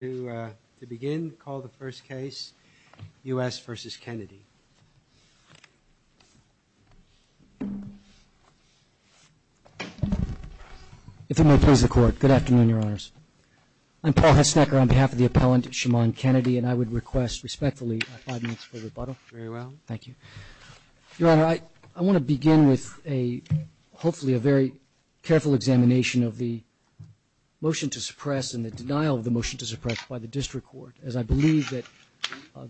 If it may please the Court, good afternoon, Your Honors. I'm Paul Hesnecker on behalf of the appellant, Shimon Kennedy, and I would request, respectfully, five minutes for rebuttal. Very well. Thank you. Your Honor, I want to begin with a, hopefully, a very careful examination of the motion to suppress and the denial of the motion to suppress by the District Court, as I believe that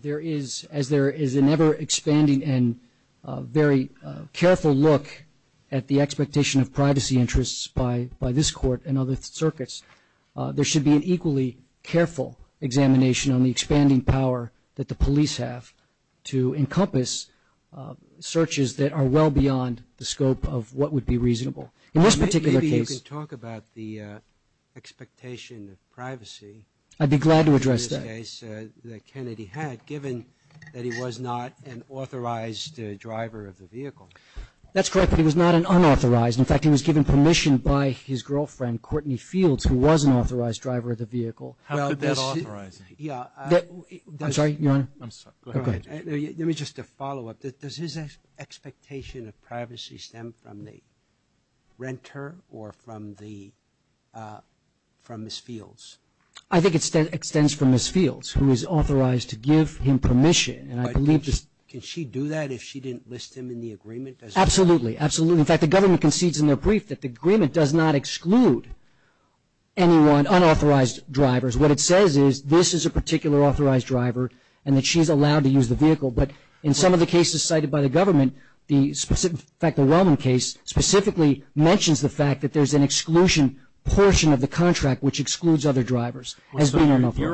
there is, as there is an ever-expanding and very careful look at the expectation of privacy interests by this Court and other circuits, there should be an equally careful examination on the expanding power that the police have to encompass searches that are well beyond the scope of what would be reasonable. In this particular case— Maybe you could talk about the expectation of privacy— I'd be glad to address that. —in this case that Kennedy had, given that he was not an authorized driver of the vehicle. That's correct, but he was not an unauthorized. In fact, he was given permission by his girlfriend, Courtney Fields, who was an authorized driver of the vehicle. How could that authorize it? I'm sorry, Your Honor? I'm sorry. Go ahead. Let me just follow up. Does his expectation of privacy stem from the renter or from Ms. Fields? I think it extends from Ms. Fields, who is authorized to give him permission, and I believe— Can she do that if she didn't list him in the agreement? Absolutely. Absolutely. In fact, the government concedes in their brief that the agreement does not exclude anyone, unauthorized drivers. What it says is this is a particular authorized driver and that she's allowed to use the vehicle, but in some of the cases cited by the government, the specific—in fact, the Wellman case specifically mentions the fact that there's an exclusion portion of the contract which excludes other drivers as being unauthorized.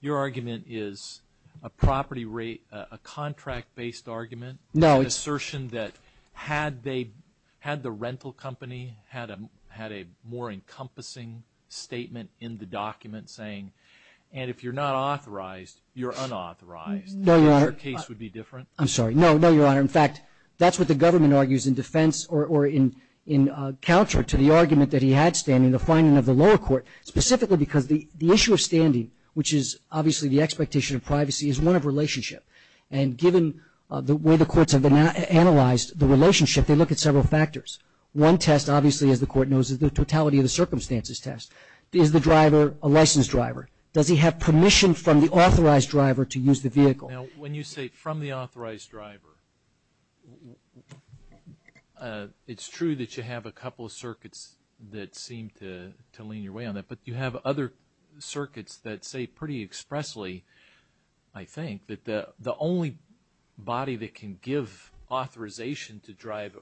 Your argument is a property rate—a contract-based argument? No, it's— Had a more encompassing statement in the document saying, and if you're not authorized, you're unauthorized. No, Your Honor. Your case would be different? I'm sorry. No, no, Your Honor. In fact, that's what the government argues in defense or in counter to the argument that he had standing the finding of the lower court, specifically because the issue of standing, which is obviously the expectation of privacy, is one of relationship. And given the way the courts have analyzed the relationship, they look at several factors. One test, obviously, as the court knows, is the totality of the circumstances test. Is the driver a licensed driver? Does he have permission from the authorized driver to use the vehicle? Now, when you say from the authorized driver, it's true that you have a couple of circuits that seem to lean your way on that, but you have other circuits that say pretty expressly, I think, that the only body that can give authorization to drive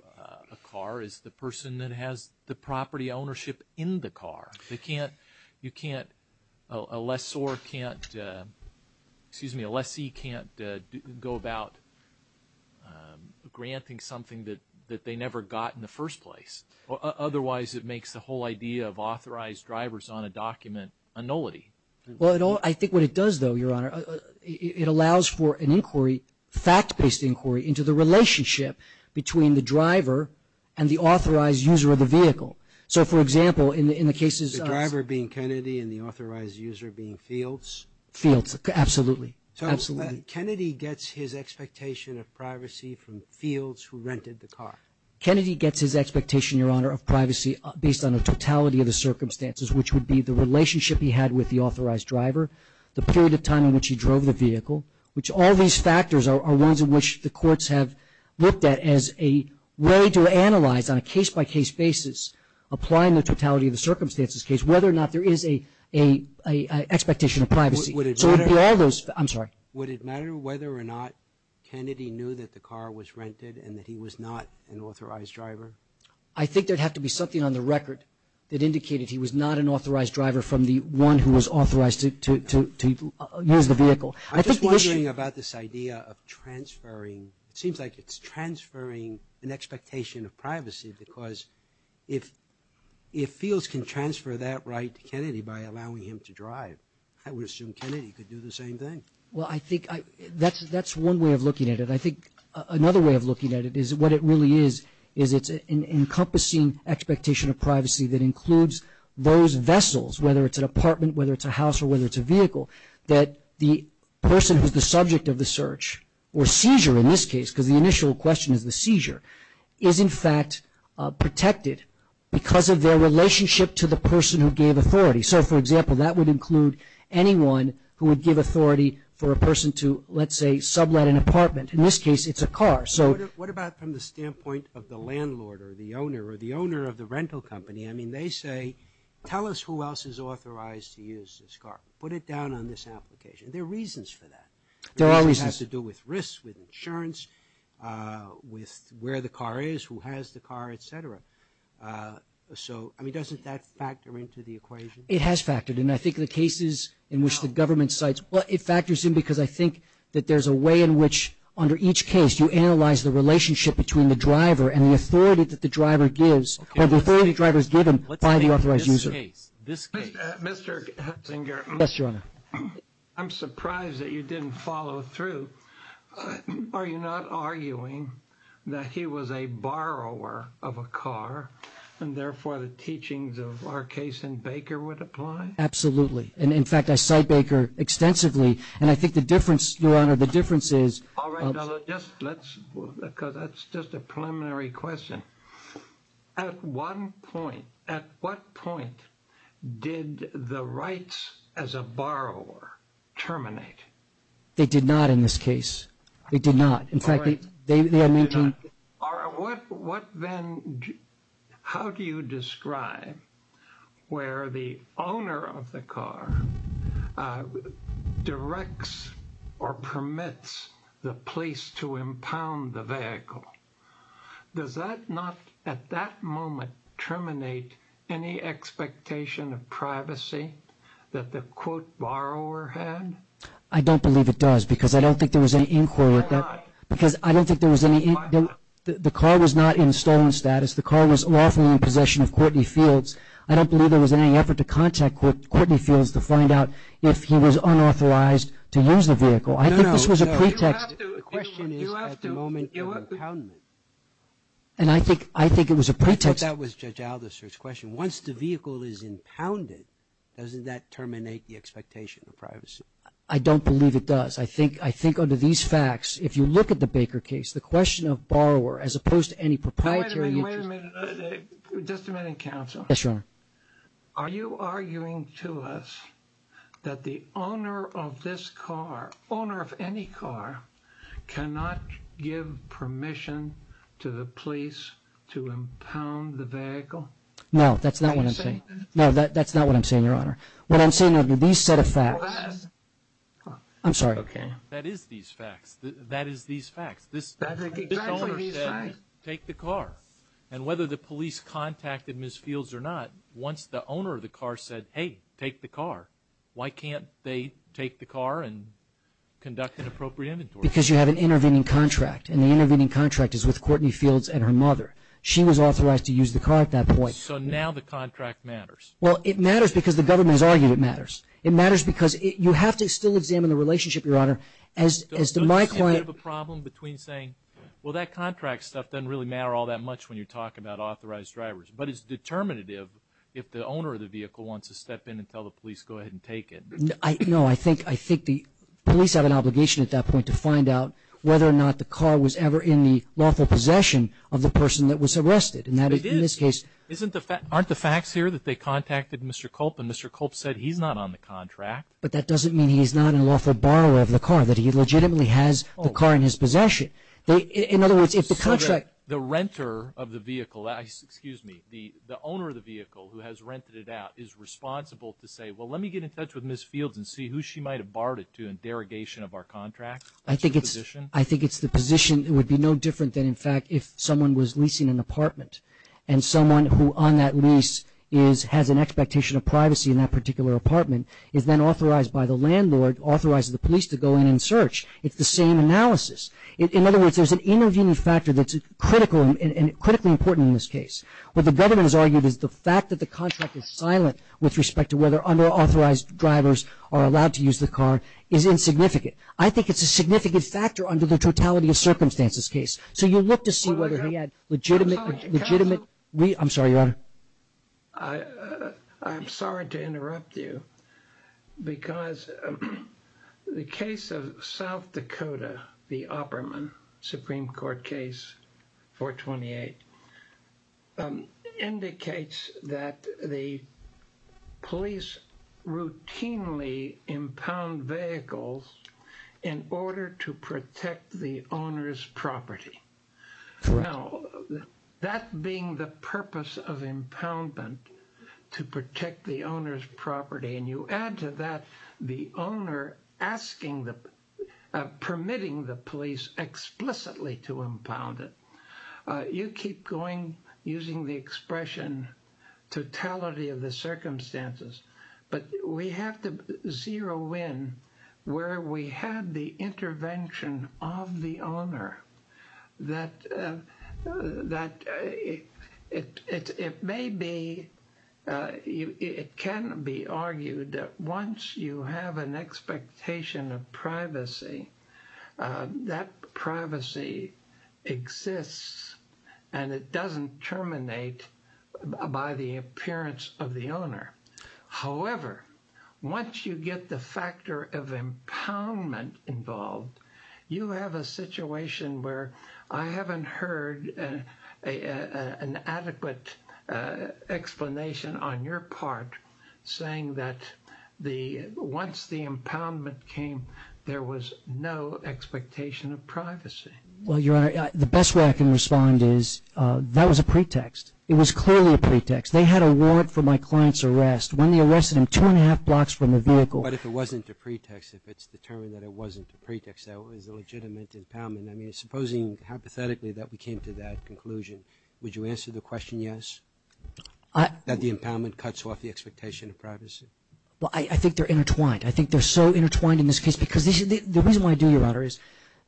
a car is the person that has the property ownership in the car. They can't, you can't, a lessor can't, excuse me, a lessee can't go about granting something that they never got in the first place. Otherwise, it makes the whole idea of authorized drivers on a document a nullity. Well, I think what it does, though, Your Honor, it allows for an inquiry, fact-based inquiry, into the relationship between the driver and the authorized user of the vehicle. So, for example, in the cases... The driver being Kennedy and the authorized user being Fields? Fields, absolutely, absolutely. Kennedy gets his expectation of privacy from Fields, who rented the car. Kennedy gets his expectation, Your Honor, of privacy based on a totality of the circumstances, which would be the relationship he had with the authorized driver, the period of time in which he drove the vehicle, which all these factors are ones in which the courts have looked at as a way to analyze, on a case-by-case basis, applying the totality of the circumstances case, whether or not there is a expectation of privacy. Would it matter... So it would be all those, I'm sorry. Would it matter whether or not Kennedy knew that the car was rented and that he was not an authorized driver? I think there'd have to be something on the record that indicated he was not an authorized driver from the one who was authorized to use the vehicle. I'm just wondering about this idea of transferring... It seems like it's transferring an expectation of privacy because if Fields can transfer that right to Kennedy by allowing him to drive, I would assume Kennedy could do the same thing. Well, I think that's one way of looking at it. I think another way of looking at it is what it really is, is it's an encompassing expectation of privacy that includes those vessels, whether it's an apartment, whether it's a house, or whether it's a vehicle, that the person who's the subject of the search, or seizure in this case, because the initial question is the seizure, is in fact protected because of their relationship to the person who gave authority. So, for example, that would include anyone who would give authority for a person to, let's say, sublet an apartment. In this case, it's a car, so... What about from the standpoint of the landlord, or the owner, or the owner of the rental company? They say, tell us who else is authorized to use this car. Put it down on this application. There are reasons for that. There are reasons. It has to do with risks, with insurance, with where the car is, who has the car, etc. So, I mean, doesn't that factor into the equation? It has factored, and I think the cases in which the government cites, it factors in because I think that there's a way in which, under each case, you analyze the relationship between the driver and the authority that the driver gives, and the authority the driver's given by the authorized user. Let's take this case. This case. Mr. Hatzinger. Yes, Your Honor. I'm surprised that you didn't follow through. Are you not arguing that he was a borrower of a car, and therefore the teachings of our case in Baker would apply? And in fact, I cite Baker extensively, and I think the difference, Your Honor, the difference is... All right, now let's, because that's just a preliminary question. At one point, at what point did the rights as a borrower terminate? They did not in this case. They did not. In fact, they are maintaining... What then, how do you describe where the owner of the car does that not, at that moment, terminate any expectation of privacy that the, quote, borrower had? I don't believe it does, because I don't think there was any inquiry. Because I don't think there was any... The car was not in stolen status. The car was lawfully in possession of Courtney Fields. I don't believe there was any effort to contact Courtney Fields to find out if he was unauthorized to use the vehicle. I think this was a pretext. The question is at the moment of impoundment. And I think it was a pretext. But that was Judge Aldister's question. Once the vehicle is impounded, doesn't that terminate the expectation of privacy? I don't believe it does. I think under these facts, if you look at the Baker case, the question of borrower, as opposed to any proprietary... Wait a minute, just a minute, counsel. Yes, Your Honor. Are you arguing to us that the owner of this car, owner of any car, cannot give permission to the police to impound the vehicle? No, that's not what I'm saying. No, that's not what I'm saying, Your Honor. What I'm saying are these set of facts. I'm sorry. Okay. That is these facts. That is these facts. This owner said, take the car. And whether the police contacted Ms. Fields or not, once the owner of the car said, hey, take the car, why can't they take the car and conduct an appropriate inventory? Because you have an intervening contract. And the intervening contract is with Courtney Fields and her mother. She was authorized to use the car at that point. So now the contract matters. Well, it matters because the government has argued it matters. It matters because you have to still examine the relationship, Your Honor, as to my client... Don't you see a bit of a problem between saying, well, that contract stuff doesn't really matter all that much when you talk about authorized drivers. But it's determinative if the owner of the vehicle wants to step in and tell the police, go ahead and take it. No, I think the police have an obligation at that point to find out whether or not the car was ever in the lawful possession of the person that was arrested. And in this case... Aren't the facts here that they contacted Mr. Culp and Mr. Culp said he's not on the contract? But that doesn't mean he's not a lawful borrower of the car, that he legitimately has the car in his possession. In other words, if the contract... The renter of the vehicle, excuse me, the owner of the vehicle who has rented it out is responsible to say, well, let me get in touch with Ms. Fields and see who she might have borrowed it to in derogation of our contract. I think it's the position. It would be no different than, in fact, if someone was leasing an apartment and someone who on that lease has an expectation of privacy in that particular apartment is then authorized by the landlord, authorizes the police to go in and search. It's the same analysis. In other words, there's an intervening factor that's critical and critically important in this case. What the government has argued is the fact that the contract is silent with respect to whether underauthorized drivers are allowed to use the car is insignificant. I think it's a significant factor under the totality of circumstances case. So you look to see whether he had legitimate... I'm sorry, Your Honor. I'm sorry to interrupt you because the case of South Dakota, the Opperman Supreme Court case 428, indicates that the police routinely impound vehicles in order to protect the owner's property. Now, that being the purpose of impoundment, to protect the owner's property, and you add to that the owner asking, permitting the police explicitly to impound it, you keep going using the expression totality of the circumstances. But we have to zero in where we had the intervention of the owner that it may be, it can be argued that once you have an expectation of privacy, that privacy exists and it doesn't terminate by the appearance of the owner. However, once you get the factor of impoundment involved, you have a situation where I haven't heard an adequate explanation on your part saying that once the impoundment came, there was no expectation of privacy. Well, Your Honor, the best way I can respond is that was a pretext. It was clearly a pretext. They had a warrant for my client's arrest. When they arrested him two and a half blocks from the vehicle... If it wasn't a pretext, if it's determined that it wasn't a pretext, that was a legitimate impoundment. I mean, supposing hypothetically that we came to that conclusion, would you answer the question yes? That the impoundment cuts off the expectation of privacy? Well, I think they're intertwined. I think they're so intertwined in this case because the reason why I do, Your Honor, is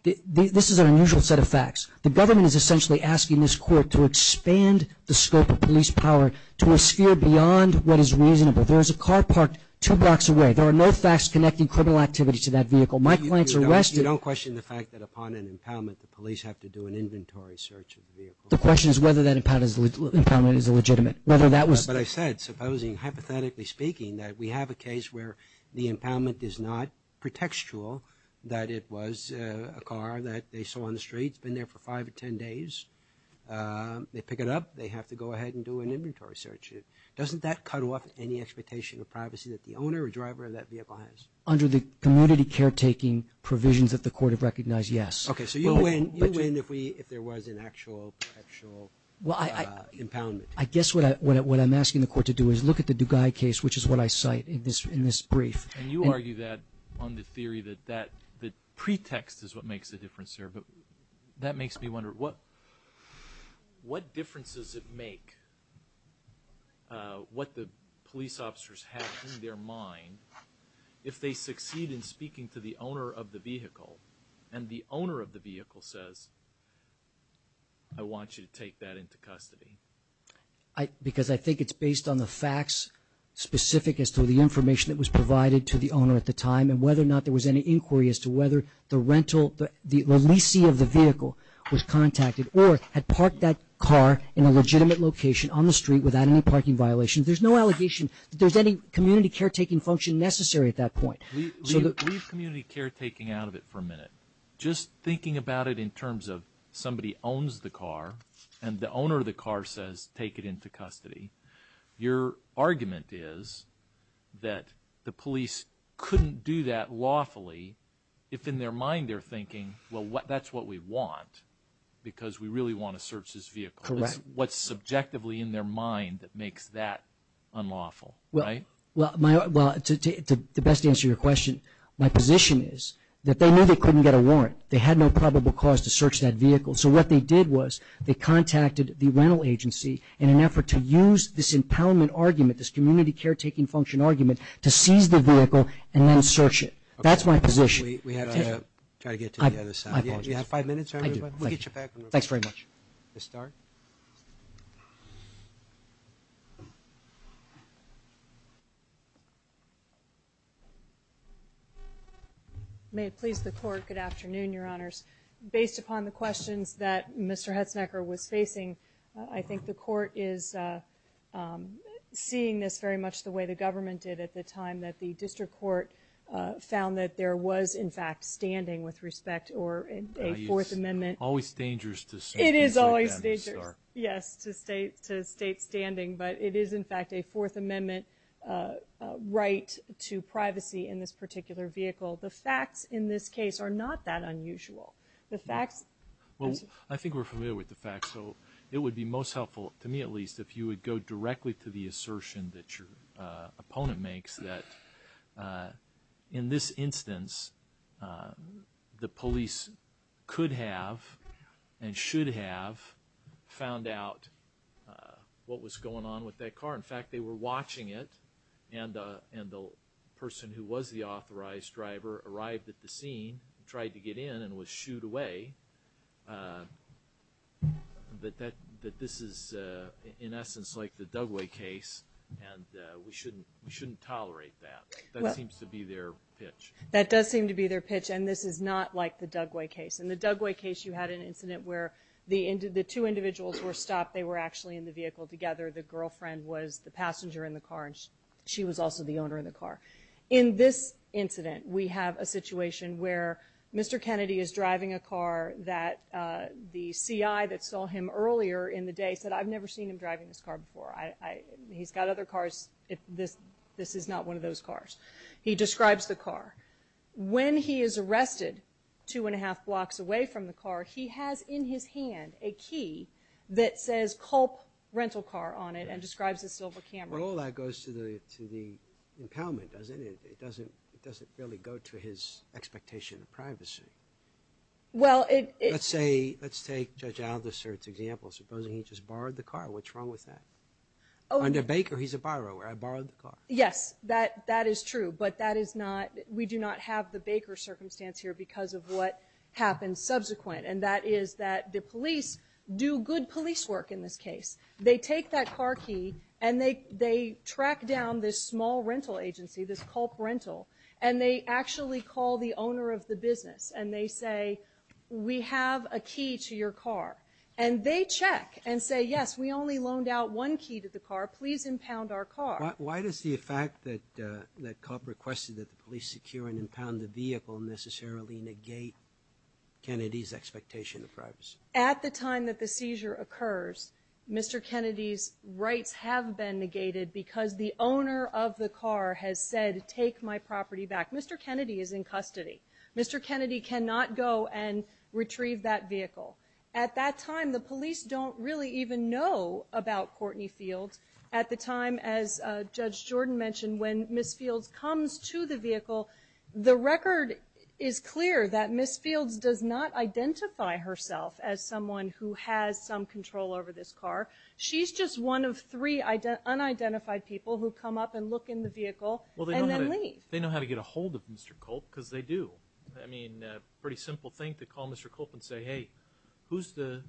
this is an unusual set of facts. The government is essentially asking this court to expand the scope of police power to a sphere beyond what is reasonable. There is a car parked two blocks away. There are no facts connecting criminal activity to that vehicle. My client's arrested... You don't question the fact that upon an impoundment, the police have to do an inventory search of the vehicle? The question is whether that impoundment is legitimate, whether that was... But I said, supposing, hypothetically speaking, that we have a case where the impoundment is not pretextual, that it was a car that they saw on the streets, been there for five or ten days. They pick it up. They have to go ahead and do an inventory search. Doesn't that cut off any expectation of privacy that the owner or driver of that vehicle has? Under the community caretaking provisions that the court have recognized, yes. Okay, so you win if there was an actual impoundment. I guess what I'm asking the court to do is look at the Duguay case, which is what I cite in this brief. And you argue that on the theory that the pretext is what makes the difference there. But that makes me wonder, what difference does it make what the police officers have in their mind if they succeed in speaking to the owner of the vehicle and the owner of the vehicle says, I want you to take that into custody? Because I think it's based on the facts specific as to the information that was provided to the owner at the time and whether or not there was any inquiry as to whether the leasee of the vehicle was contacted or had parked that car in a legitimate location on the street without any parking violations. There's no allegation that there's any community caretaking function necessary at that point. We leave community caretaking out of it for a minute. Just thinking about it in terms of somebody owns the car and the owner of the car says, take it into custody. Your argument is that the police couldn't do that lawfully if in their mind they're thinking, well, that's what we want because we really want to search this vehicle. Correct. What's subjectively in their mind that makes that unlawful, right? Well, to best answer your question, my position is that they knew they couldn't get a warrant. They had no probable cause to search that vehicle. So what they did was they contacted the rental agency in an effort to use this empowerment argument, this community caretaking function argument, to seize the vehicle and then search it. That's my position. We have to try to get to the other side. You have five minutes, everybody. We'll get you back. Thanks very much. May it please the court. Good afternoon, Your Honors. Based upon the questions that Mr. Hetznecker was facing, I think the court is seeing this very much the way the government did at the time that the district court found that there was, in fact, standing with respect or a Fourth Amendment. Always dangerous to start. It is always dangerous, yes, to state standing. But it is, in fact, a Fourth Amendment right to privacy in this particular vehicle. The facts in this case are not that unusual. The facts... Well, I think we're familiar with the facts. So it would be most helpful, to me at least, if you would go directly to the assertion that your opponent makes that, in this instance, the police could have and should have found out what was going on with that car. In fact, they were watching it. And the person who was the authorized driver arrived at the scene, tried to get in, and was shooed away. But this is, in essence, like the Dugway case. And we shouldn't tolerate that. That seems to be their pitch. That does seem to be their pitch. And this is not like the Dugway case. In the Dugway case, you had an incident where the two individuals were stopped. They were actually in the vehicle together. The girlfriend was the passenger in the car, and she was also the owner in the car. In this incident, we have a situation where Mr. Kennedy is driving a car that the CI that saw him earlier in the day said, I've never seen him driving this car before. He's got other cars. This is not one of those cars. He describes the car. When he is arrested two and a half blocks away from the car, he has in his hand a key that says, Culp Rental Car on it, and describes a silver camera. But all that goes to the impoundment, doesn't it? It doesn't really go to his expectation of privacy. Well, it... Let's say, let's take Judge Aldister's example. Supposing he just borrowed the car. What's wrong with that? Under Baker, he's a borrower. I borrowed the car. Yes, that is true. But that is not... We do not have the Baker circumstance here because of what happens subsequent. And that is that the police do good police work in this case. They take that car key, and they track down this small rental agency, this Culp Rental, and they actually call the owner of the business. And they say, we have a key to your car. And they check and say, yes, we only loaned out one key to the car. Please impound our car. Why does the fact that Culp requested that the police secure an impounded vehicle necessarily negate Kennedy's expectation of privacy? At the time that the seizure occurs, Mr. Kennedy's rights have been negated because the owner of the car has said, take my property back. Mr. Kennedy is in custody. Mr. Kennedy cannot go and retrieve that vehicle. At that time, the police don't really even know about Courtney Fields. At the time, as Judge Jordan mentioned, when Ms. Fields comes to the vehicle, the record is clear that Ms. Fields does not identify herself as someone who has some control over this car. She's just one of three unidentified people who come up and look in the vehicle and then leave. They know how to get a hold of Mr. Culp because they do. I mean, pretty simple thing to call Mr. Culp and say, hey, who's the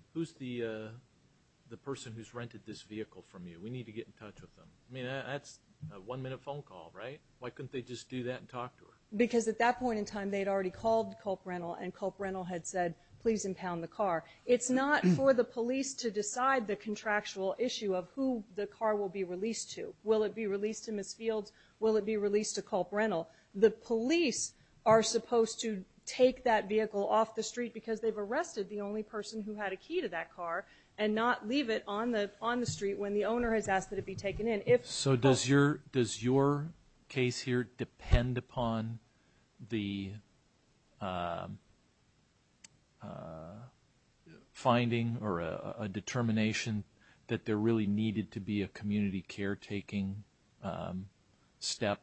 person who's rented this vehicle from you? We need to get in touch with them. I mean, that's a one-minute phone call, right? Why couldn't they just do that and talk to her? Because at that point in time, they'd already called Culp Rental and Culp Rental had said, please impound the car. It's not for the police to decide the contractual issue of who the car will be released to. Will it be released to Ms. Fields? Will it be released to Culp Rental? The police are supposed to take that vehicle off the street because they've arrested the only person who had a key to that car and not leave it on the street when the owner has asked that it be taken in. So does your case here depend upon the finding or a determination that there really needed to be a community caretaking step,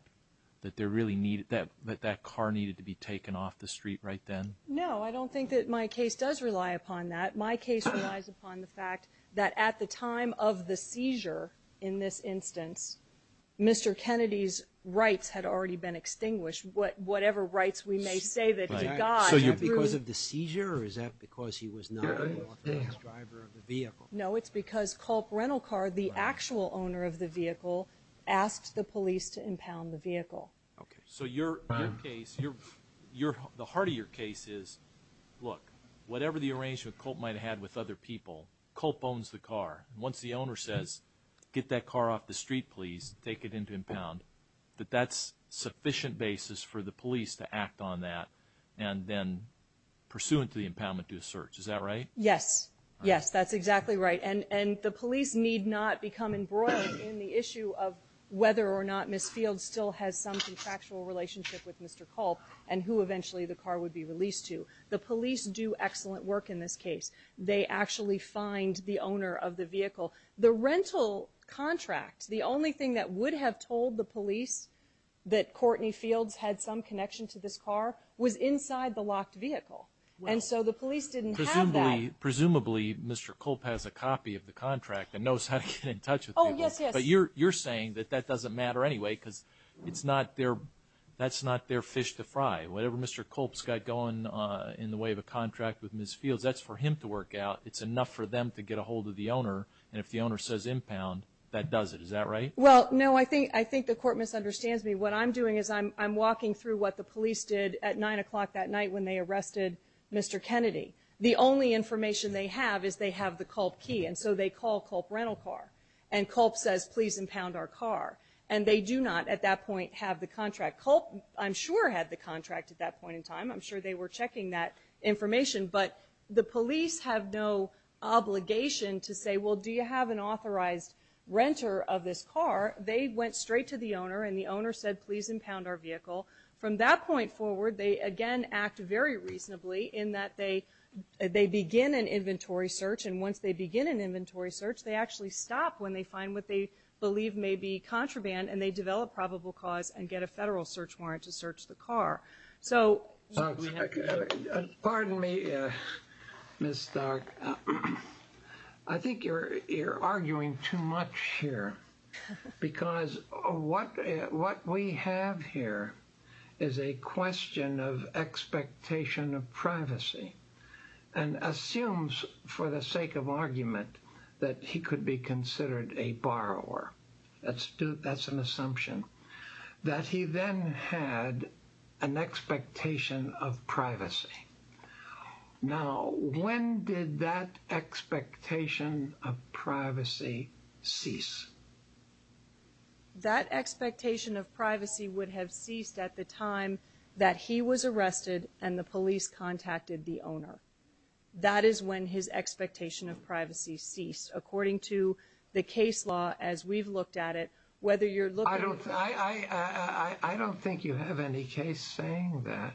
that that car needed to be taken off the street right then? No, I don't think that my case does rely upon that. My case relies upon the fact that at the time of the seizure in this instance, Mr. Kennedy's rights had already been extinguished. Whatever rights we may say that he got. Is that because of the seizure or is that because he was not the authorized driver of the vehicle? No, it's because Culp Rental Car, the actual owner of the vehicle, asked the police to impound the vehicle. Okay, so the heart of your case is, look, whatever the arrangement Culp might have had with other people, Culp owns the car. Once the owner says, get that car off the street, please, take it in to impound, that that's sufficient basis for the police to act on that and then pursuant to the impoundment do a search. Is that right? Yes, yes, that's exactly right. And the police need not become embroiled in the issue of whether or not Ms. Fields still has some contractual relationship with Mr. Culp and who eventually the car would be released to. The police do excellent work in this case. They actually find the owner of the vehicle. The rental contract, the only thing that would have told the police that Courtney Fields had some connection to this car was inside the locked vehicle. And so the police didn't have that. Presumably, Mr. Culp has a copy of the contract and knows how to get in touch with people. Oh, yes, yes. But you're saying that that doesn't matter anyway because that's not their fish to fry. Whatever Mr. Culp's got going in the way of a contract with Ms. Fields, that's for him to work out. It's enough for them to get a hold of the owner. And if the owner says impound, that does it. Is that right? Well, no, I think the court misunderstands me. What I'm doing is I'm walking through what the police did at 9 o'clock that night when they arrested Mr. Kennedy. The only information they have is they have the Culp key. And so they call Culp rental car and Culp says, please impound our car. And they do not at that point have the contract. Culp, I'm sure, had the contract at that point in time. I'm sure they were checking that information. But the police have no obligation to say, well, do you have an authorized renter of this car? They went straight to the owner. And the owner said, please impound our vehicle. From that point forward, they, again, act very reasonably in that they begin an inventory search. And once they begin an inventory search, they actually stop when they find what they believe may be contraband. And they develop probable cause and get a federal search warrant to search the car. So- Pardon me, Ms. Stark. I think you're arguing too much here because what we have here is a question of expectation of privacy and assumes for the sake of argument that he could be considered a borrower. That's an assumption. That he then had an expectation of privacy. Now, when did that expectation of privacy cease? That expectation of privacy would have ceased at the time that he was arrested and the police contacted the owner. That is when his expectation of privacy ceased. According to the case law, as we've looked at it, whether you're looking- I don't think you have any case saying that.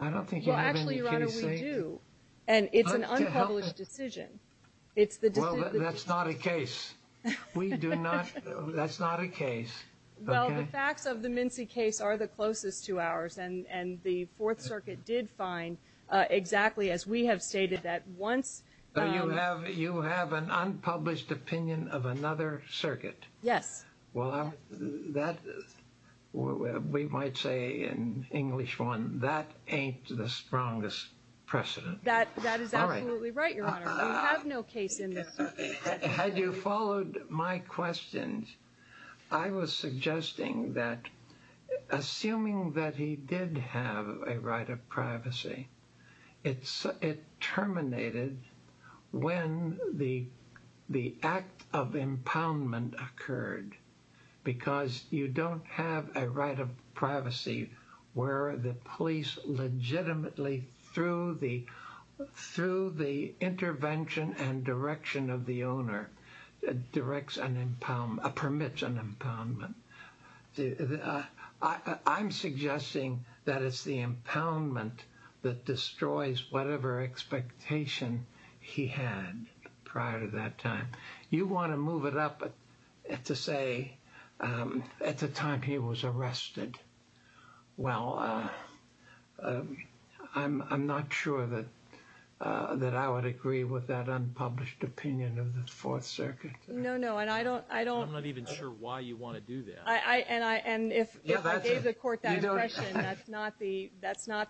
I don't think you have any case saying- Well, actually, Your Honor, we do. And it's an unpublished decision. It's the decision- Well, that's not a case. We do not- That's not a case, okay? Well, the facts of the Mincy case are the closest to ours. And the Fourth Circuit did find, exactly as we have stated, that once- You have an unpublished opinion of another circuit? Yes. Well, that, we might say in English one, that ain't the strongest precedent. That is absolutely right, Your Honor. We have no case in this circuit. Had you followed my questions, I was suggesting that, assuming that he did have a right of privacy, it terminated when the act of impoundment occurred. Because you don't have a right of privacy where the police legitimately, through the intervention and direction of the owner, directs an impoundment- Permits an impoundment. I'm suggesting that it's the impoundment that destroys whatever expectation he had prior to that time. You want to move it up to say at the time he was arrested. Well, I'm not sure that I would agree with that unpublished opinion of the Fourth Circuit. No, no, and I don't- I'm not even sure why you want to do that. And if I gave the court that impression, that's not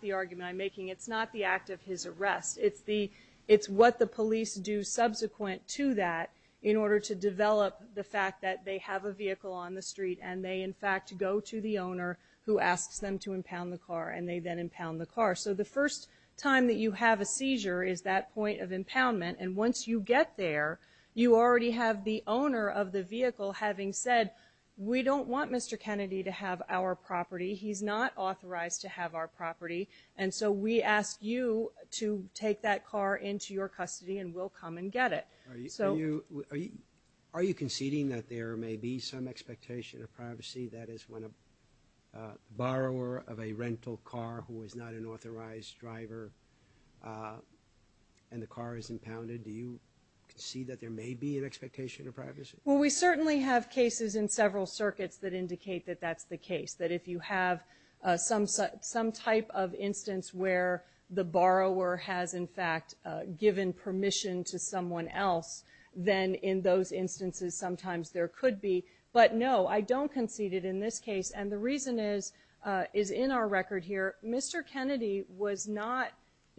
the argument I'm making. It's not the act of his arrest. It's what the police do subsequent to that in order to develop the fact that they have a vehicle on the street and they, in fact, go to the owner who asks them to impound the car and they then impound the car. So the first time that you have a seizure is that point of impoundment. And once you get there, you already have the owner of the vehicle having said, we don't want Mr. Kennedy to have our property. He's not authorized to have our property. And so we ask you to take that car into your custody and we'll come and get it. Are you conceding that there may be some expectation of privacy? That is when a borrower of a rental car who is not an authorized driver and the car is impounded, do you concede that there may be an expectation of privacy? Well, we certainly have cases in several circuits that indicate that that's the case. That if you have some type of instance where the borrower has, in fact, given permission to someone else, then in those instances, sometimes there could be. But no, I don't concede it in this case. And the reason is in our record here, Mr. Kennedy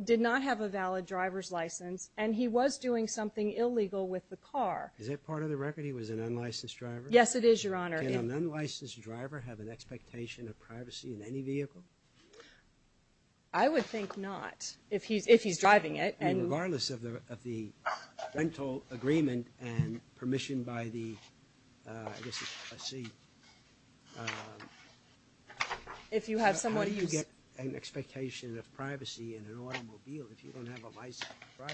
did not have a valid driver's license and he was doing something illegal with the car. Is that part of the record? He was an unlicensed driver? Yes, it is, Your Honor. Can an unlicensed driver have an expectation of privacy in any vehicle? I would think not, if he's driving it. I mean, regardless of the rental agreement and permission by the, I guess it's a C. If you have someone who's- How do you get an expectation of privacy in an automobile if you don't have a licensed driver?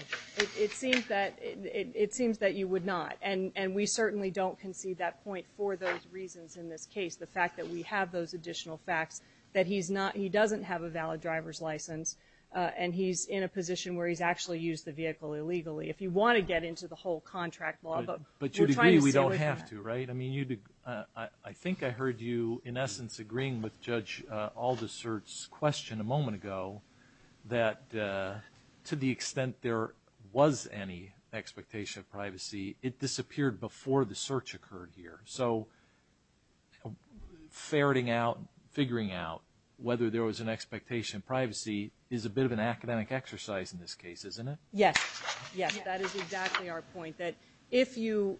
It seems that you would not. And we certainly don't concede that point for those reasons in this case. The fact that we have those additional facts, that he doesn't have a valid driver's license and he's in a position where he's actually used the vehicle illegally. If you want to get into the whole contract law, but- But to a degree, we don't have to, right? I mean, I think I heard you, in essence, agreeing with Judge Aldersert's question a moment ago that to the extent there was any expectation of privacy, it disappeared before the search occurred here. So ferreting out, figuring out whether there was an expectation of privacy is a bit of an academic exercise in this case, isn't it? Yes, yes, that is exactly our point. That if you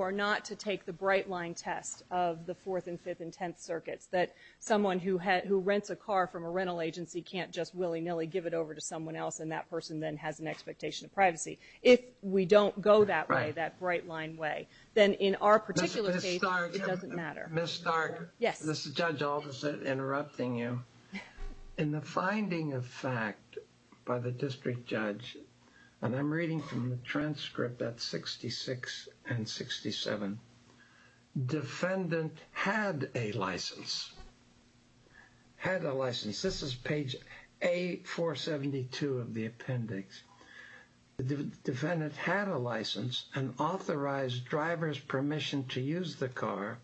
are not to take the bright line test of the fourth and fifth and 10th circuits, that someone who rents a car from a rental agency can't just willy-nilly give it over to someone else and that person then has an expectation of privacy. If we don't go that way, that bright line way, then in our particular case, it doesn't matter. Ms. Stark. Yes. This is Judge Aldersert interrupting you. In the finding of fact by the district judge, and I'm reading from the transcript at 66 and 67, defendant had a license, had a license. This is page A472 of the appendix. The defendant had a license and authorized driver's permission to use the car,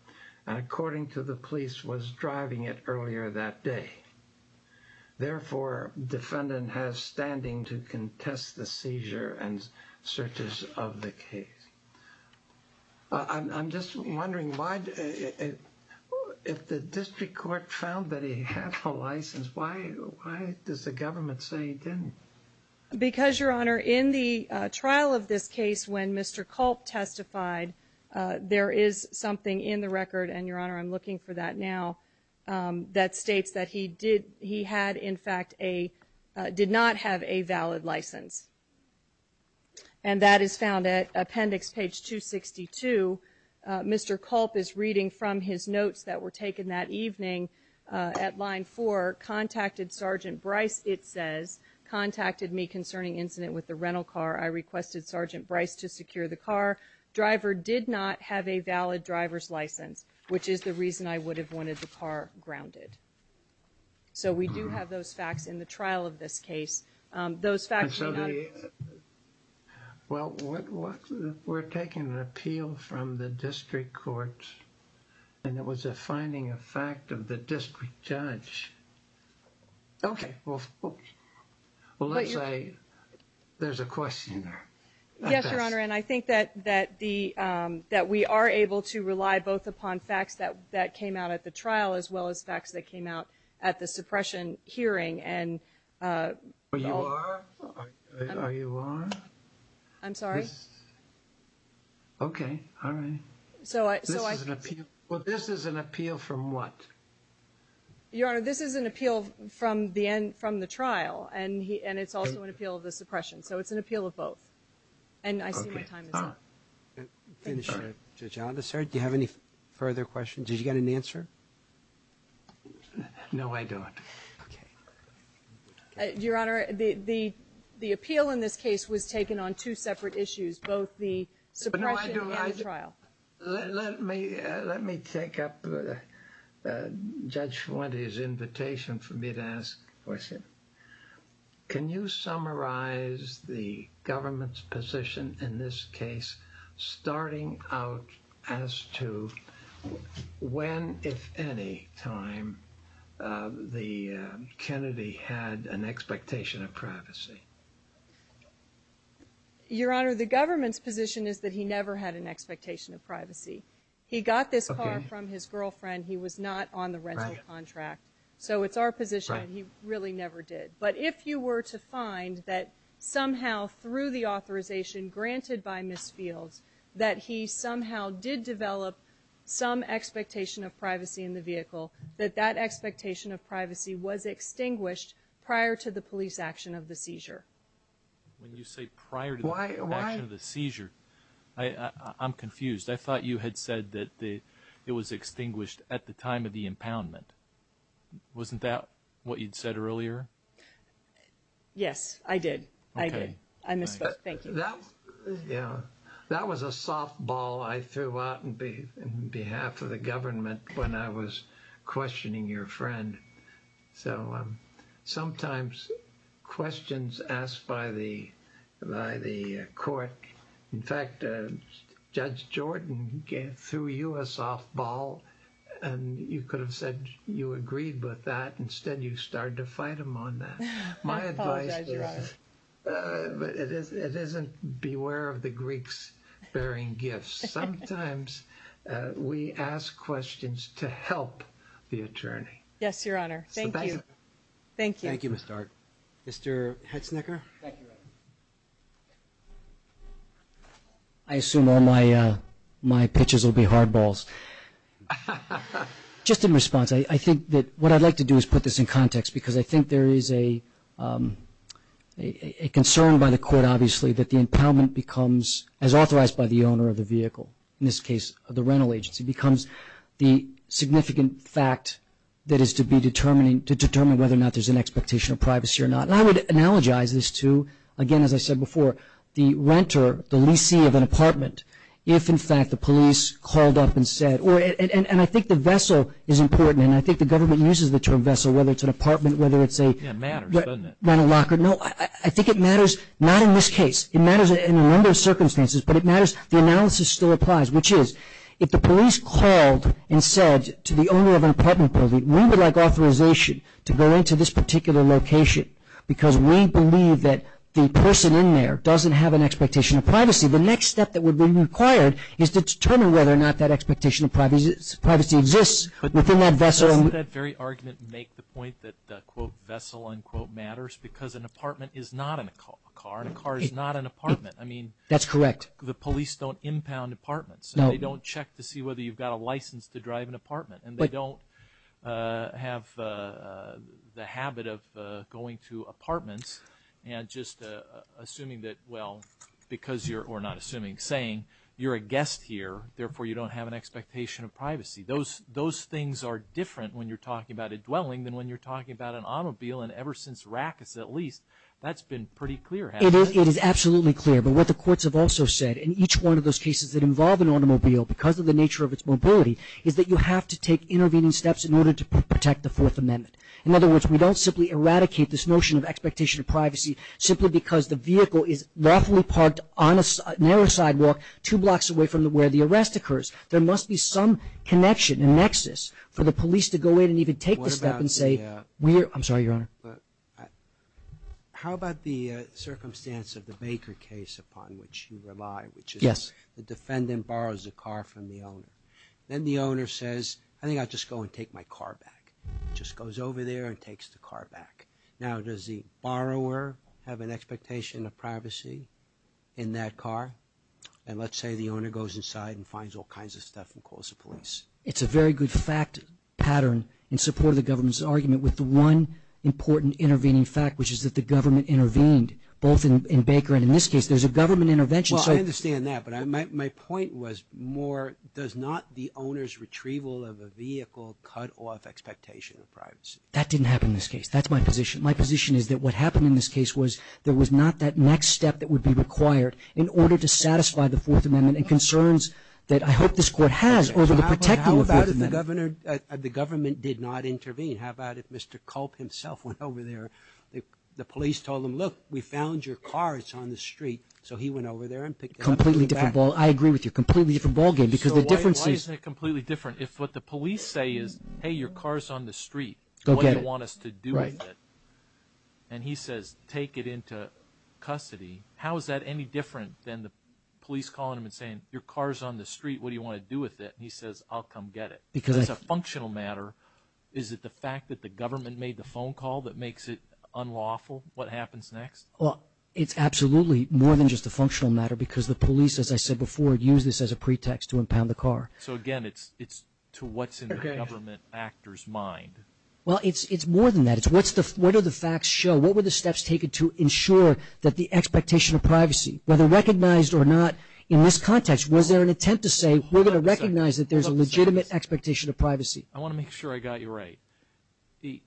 and according to the police, was driving it earlier that day. Therefore, defendant has standing to contest the seizure and searches of the case. I'm just wondering why, if the district court found that he had a license, why does the government say he didn't? Because Your Honor, in the trial of this case, when Mr. Culp testified, there is something in the record, and Your Honor, I'm looking for that now, that states that he did, he had in fact a, did not have a valid license. And that is found at appendix page 262. Mr. Culp is reading from his notes that were taken that evening at line four, contacted Sergeant Bryce, it says, contacted me concerning incident with the rental car. I requested Sergeant Bryce to secure the car. Driver did not have a valid driver's license, which is the reason I would have wanted the car grounded. So we do have those facts in the trial of this case. Those facts were not- And so the, well, what, we're taking an appeal from the district court, and it was a finding of fact of the district judge. Okay, well, let's say, there's a question. Yes, Your Honor, and I think that the, that we are able to rely both upon facts that came out at the trial, as well as facts that came out at the suppression hearing, and- But you are? Are you on? I'm sorry? Okay, all right. So I- This is an appeal, well, this is an appeal from what? Your Honor, this is an appeal from the trial, and it's also an appeal of the suppression. So it's an appeal of both. And I see my time is up. Okay, all right. Thank you. Judge Aldis, sir, do you have any further questions? Did you get an answer? No, I don't. Okay. Your Honor, the appeal in this case was taken on two separate issues, both the suppression and the trial. Let me take up Judge Fuente's invitation for me to ask a question. Can you summarize the government's position in this case, starting out as to when, if any time, the Kennedy had an expectation of privacy? Your Honor, the government's position is that he never had an expectation of privacy. He got this car from his girlfriend. He was not on the rental contract. So it's our position that he really never did. But if you were to find that somehow, through the authorization granted by Ms. Fields, that he somehow did develop some expectation of privacy in the vehicle, that that expectation of privacy was extinguished prior to the police action of the seizure. When you say prior to the action of the seizure, I'm confused. I thought you had said that it was extinguished at the time of the impoundment. Wasn't that what you'd said earlier? Yes, I did. I did. I misspoke. Thank you. Yeah, that was a softball I threw out on behalf of the government when I was questioning your friend. So sometimes questions asked by the court. In fact, Judge Jordan threw you a softball and you could have said you agreed with that. Instead, you started to fight him on that. My advice is it isn't beware of the Greeks bearing gifts. Sometimes we ask questions to help the attorney. Yes, Your Honor. Thank you. Thank you. Thank you, Mr. Hart. Mr. Hetzniker. I assume all my pitches will be hardballs. Just in response, I think that what I'd like to do is put this in context because I think there is a concern by the court, obviously, that the impoundment becomes, as authorized by the owner of the vehicle, in this case, the rental agency, becomes the significant fact that is to determine whether or not there's an expectation of privacy or not. And I would analogize this to, again, as I said before, the renter, the leasee of an apartment, if in fact the police called up and said, and I think the vessel is important, and I think the government uses the term vessel, whether it's an apartment, whether it's a... Yeah, it matters, doesn't it? ...rental locker. No, I think it matters not in this case. It matters in a number of circumstances, but it matters the analysis still applies, which is if the police called and said to the owner of an apartment building, we would like authorization to go into this particular location because we believe that the person in there doesn't have an expectation of privacy. The next step that would be required is to determine whether or not that expectation of privacy exists within that vessel. But doesn't that very argument make the point that the, quote, vessel, unquote, matters because an apartment is not a car and a car is not an apartment? I mean... That's correct. ...the police don't impound apartments. No. They don't check to see whether you've got a license to drive an apartment. And they don't have the habit of going to apartments and just assuming that, well, because you're, or not assuming, saying you're a guest here, therefore you don't have an expectation of privacy. Those things are different when you're talking about a dwelling than when you're talking about an automobile. And ever since Rackus, at least, that's been pretty clear, hasn't it? It is absolutely clear. But what the courts have also said in each one of those cases that involve an automobile because of the nature of its mobility is that you have to take intervening steps in order to protect the Fourth Amendment. In other words, we don't simply eradicate this notion of expectation of privacy simply because the vehicle is roughly parked on a narrow sidewalk, two blocks away from where the arrest occurs. There must be some connection and nexus for the police to go in and even take the step and say, I'm sorry, Your Honor. But how about the circumstance of the Baker case upon which you rely, which is the defendant borrows a car from the owner. Then the owner says, I think I'll just go and take my car back. Just goes over there and takes the car back. Now, does the borrower have an expectation of privacy in that car? And let's say the owner goes inside and finds all kinds of stuff and calls the police. It's a very good fact pattern in support of the government's argument with the one important intervening fact, which is that the government intervened both in Baker and in this case, there's a government intervention. Well, I understand that. But my point was more, does not the owner's retrieval of a vehicle cut off expectation of privacy? That didn't happen in this case. That's my position. My position is that what happened in this case was there was not that next step that would be required in order to satisfy the Fourth Amendment and concerns that I hope this court has over the protecting of vehicles. How about if the governor, the government did not intervene? How about if Mr. Culp himself went over there? The police told him, look, we found your car. It's on the street. So he went over there and picked it up. Completely different ball. I agree with you. Completely different ballgame because the difference is. Why isn't it completely different if what the police say is, hey, your car's on the street. Go get it. What do you want us to do with it? And he says, take it into custody. How is that any different than the police calling him and saying your car's on the street? What do you want to do with it? And he says, I'll come get it because it's a functional matter. Is it the fact that the government made the phone call that makes it unlawful? What happens next? Well, it's absolutely more than just a functional matter because the police, as I said before, use this as a pretext to impound the car. So again, it's it's to what's in the government actor's mind. Well, it's it's more than that. It's what's the what are the facts show? What were the steps taken to ensure that the expectation of privacy, whether recognized or not in this context, was there an attempt to say we're going to recognize that there's a legitimate expectation of privacy? I want to make sure I got you right. The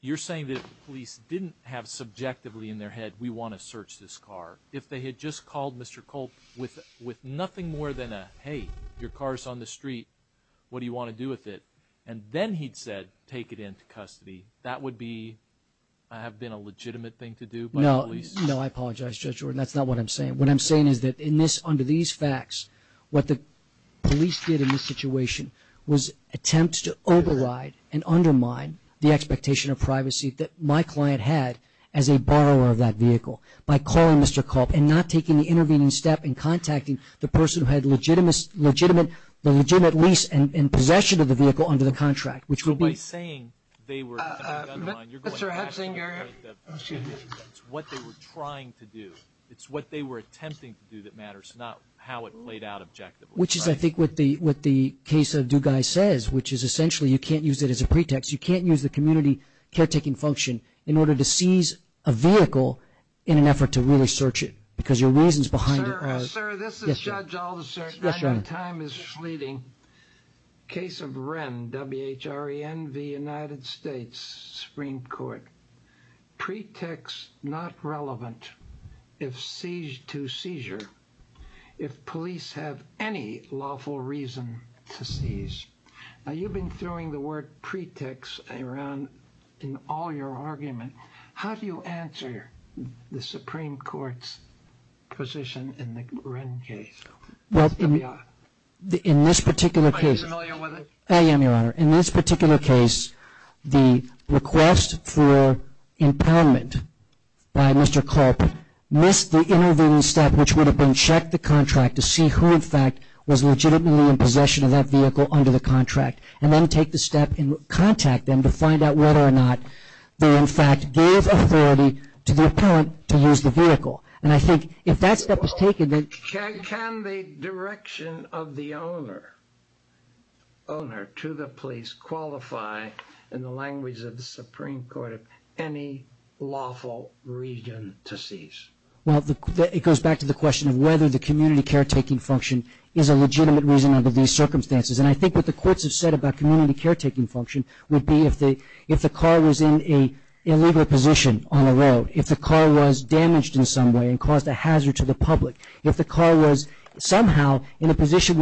you're saying that police didn't have subjectively in their head. We want to search this car. If they had just called Mr. Culp with with nothing more than a, hey, your car's on the street. What do you want to do with it? And then he'd said, take it into custody. That would be I have been a legitimate thing to do. No, I apologize, Judge. That's not what I'm saying. What I'm saying is that in this, under these facts, what the police did in this situation was attempt to override and undermine the expectation of privacy that my client had as a borrower of that vehicle by calling Mr. Culp and not taking the intervening step in contacting the person who had legitimate, legitimate, the legitimate lease and possession of the vehicle under the contract, which would be saying they were. Sir, I've seen your. It's what they were trying to do. It's what they were attempting to do that matters, not how it played out objectively, which is, I think, with the with the case of do guy says, which is essentially you can't use it as a pretext. You can't use the community caretaking function in order to seize a vehicle in an effort to really search it, because your reasons behind. Sir, this is Judge Alderson. Time is fleeting. Case of Wren, W-H-R-E-N-V, United States Supreme Court. Pretext not relevant if seized to seizure. If police have any lawful reason to seize. Now, you've been throwing the word pretext around in all your argument. How do you answer the Supreme Court's position in the Wren case? In this particular case. Are you familiar with it? I am, Your Honor. In this particular case, the request for impoundment by Mr. Karp missed the intervening step, which would have been check the contract to see who, in fact, was legitimately in possession of that vehicle under the contract, and then take the step and contact them to find out whether or not they, in fact, gave authority to the appellant to use the vehicle. And I think if that step was taken, Can the direction of the owner to the police qualify in the language of the Supreme Court of any lawful reason to seize? Well, it goes back to the question of whether the community caretaking function is a legitimate reason under these circumstances. And I think what the courts have said about community caretaking function would be if the car was in a illegal position on the road, if the car was damaged in some way and caused a hazard to the public, if the car was somehow in a position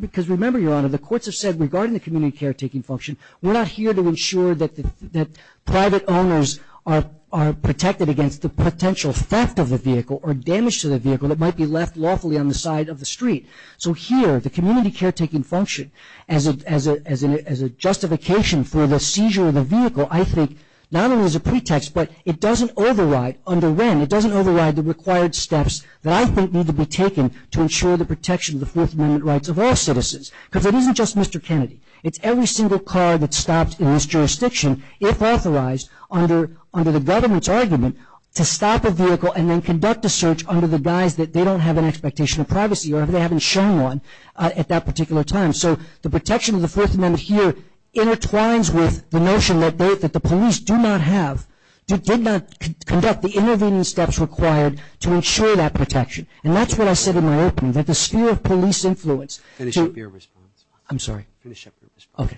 because remember, Your Honor, the courts have said regarding the community caretaking function, we're not here to ensure that private owners are protected against the potential theft of the vehicle or damage to the vehicle that might be left lawfully on the side of the street. So here, the community caretaking function as a justification for the seizure of the vehicle, I think not only is a pretext, but it doesn't override under when it doesn't override the required steps that I think need to be taken to ensure the protection of the Fourth Amendment rights of all citizens. Because it isn't just Mr. Kennedy. It's every single car that's stopped in this jurisdiction if authorized under the government's argument to stop a vehicle and then conduct a search under the guise that they don't have an expectation of privacy or they haven't shown one at that particular time. So the protection of the Fourth Amendment here intertwines with the notion that the police do not have, did not conduct the intervening steps required to ensure that protection. And that's what I said in my opening, that the sphere of police influence... Finish up your response. I'm sorry. Finish up your response.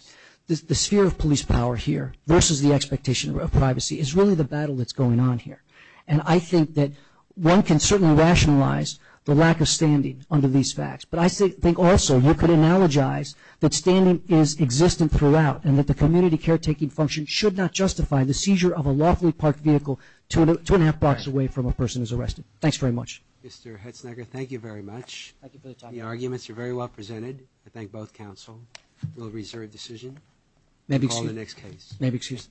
Okay. The sphere of police power here versus the expectation of privacy is really the battle that's going on here. And I think that one can certainly rationalize the lack of standing under these facts. But I think also you could analogize that standing is existent throughout and that the community caretaking function should not justify the seizure of a lawfully parked vehicle two and a half blocks away from a person who's arrested. Thanks very much. Mr. Hetzneger, thank you very much. Thank you for the time. The arguments are very well presented. I thank both counsel. We'll reserve decision. Maybe call the next case.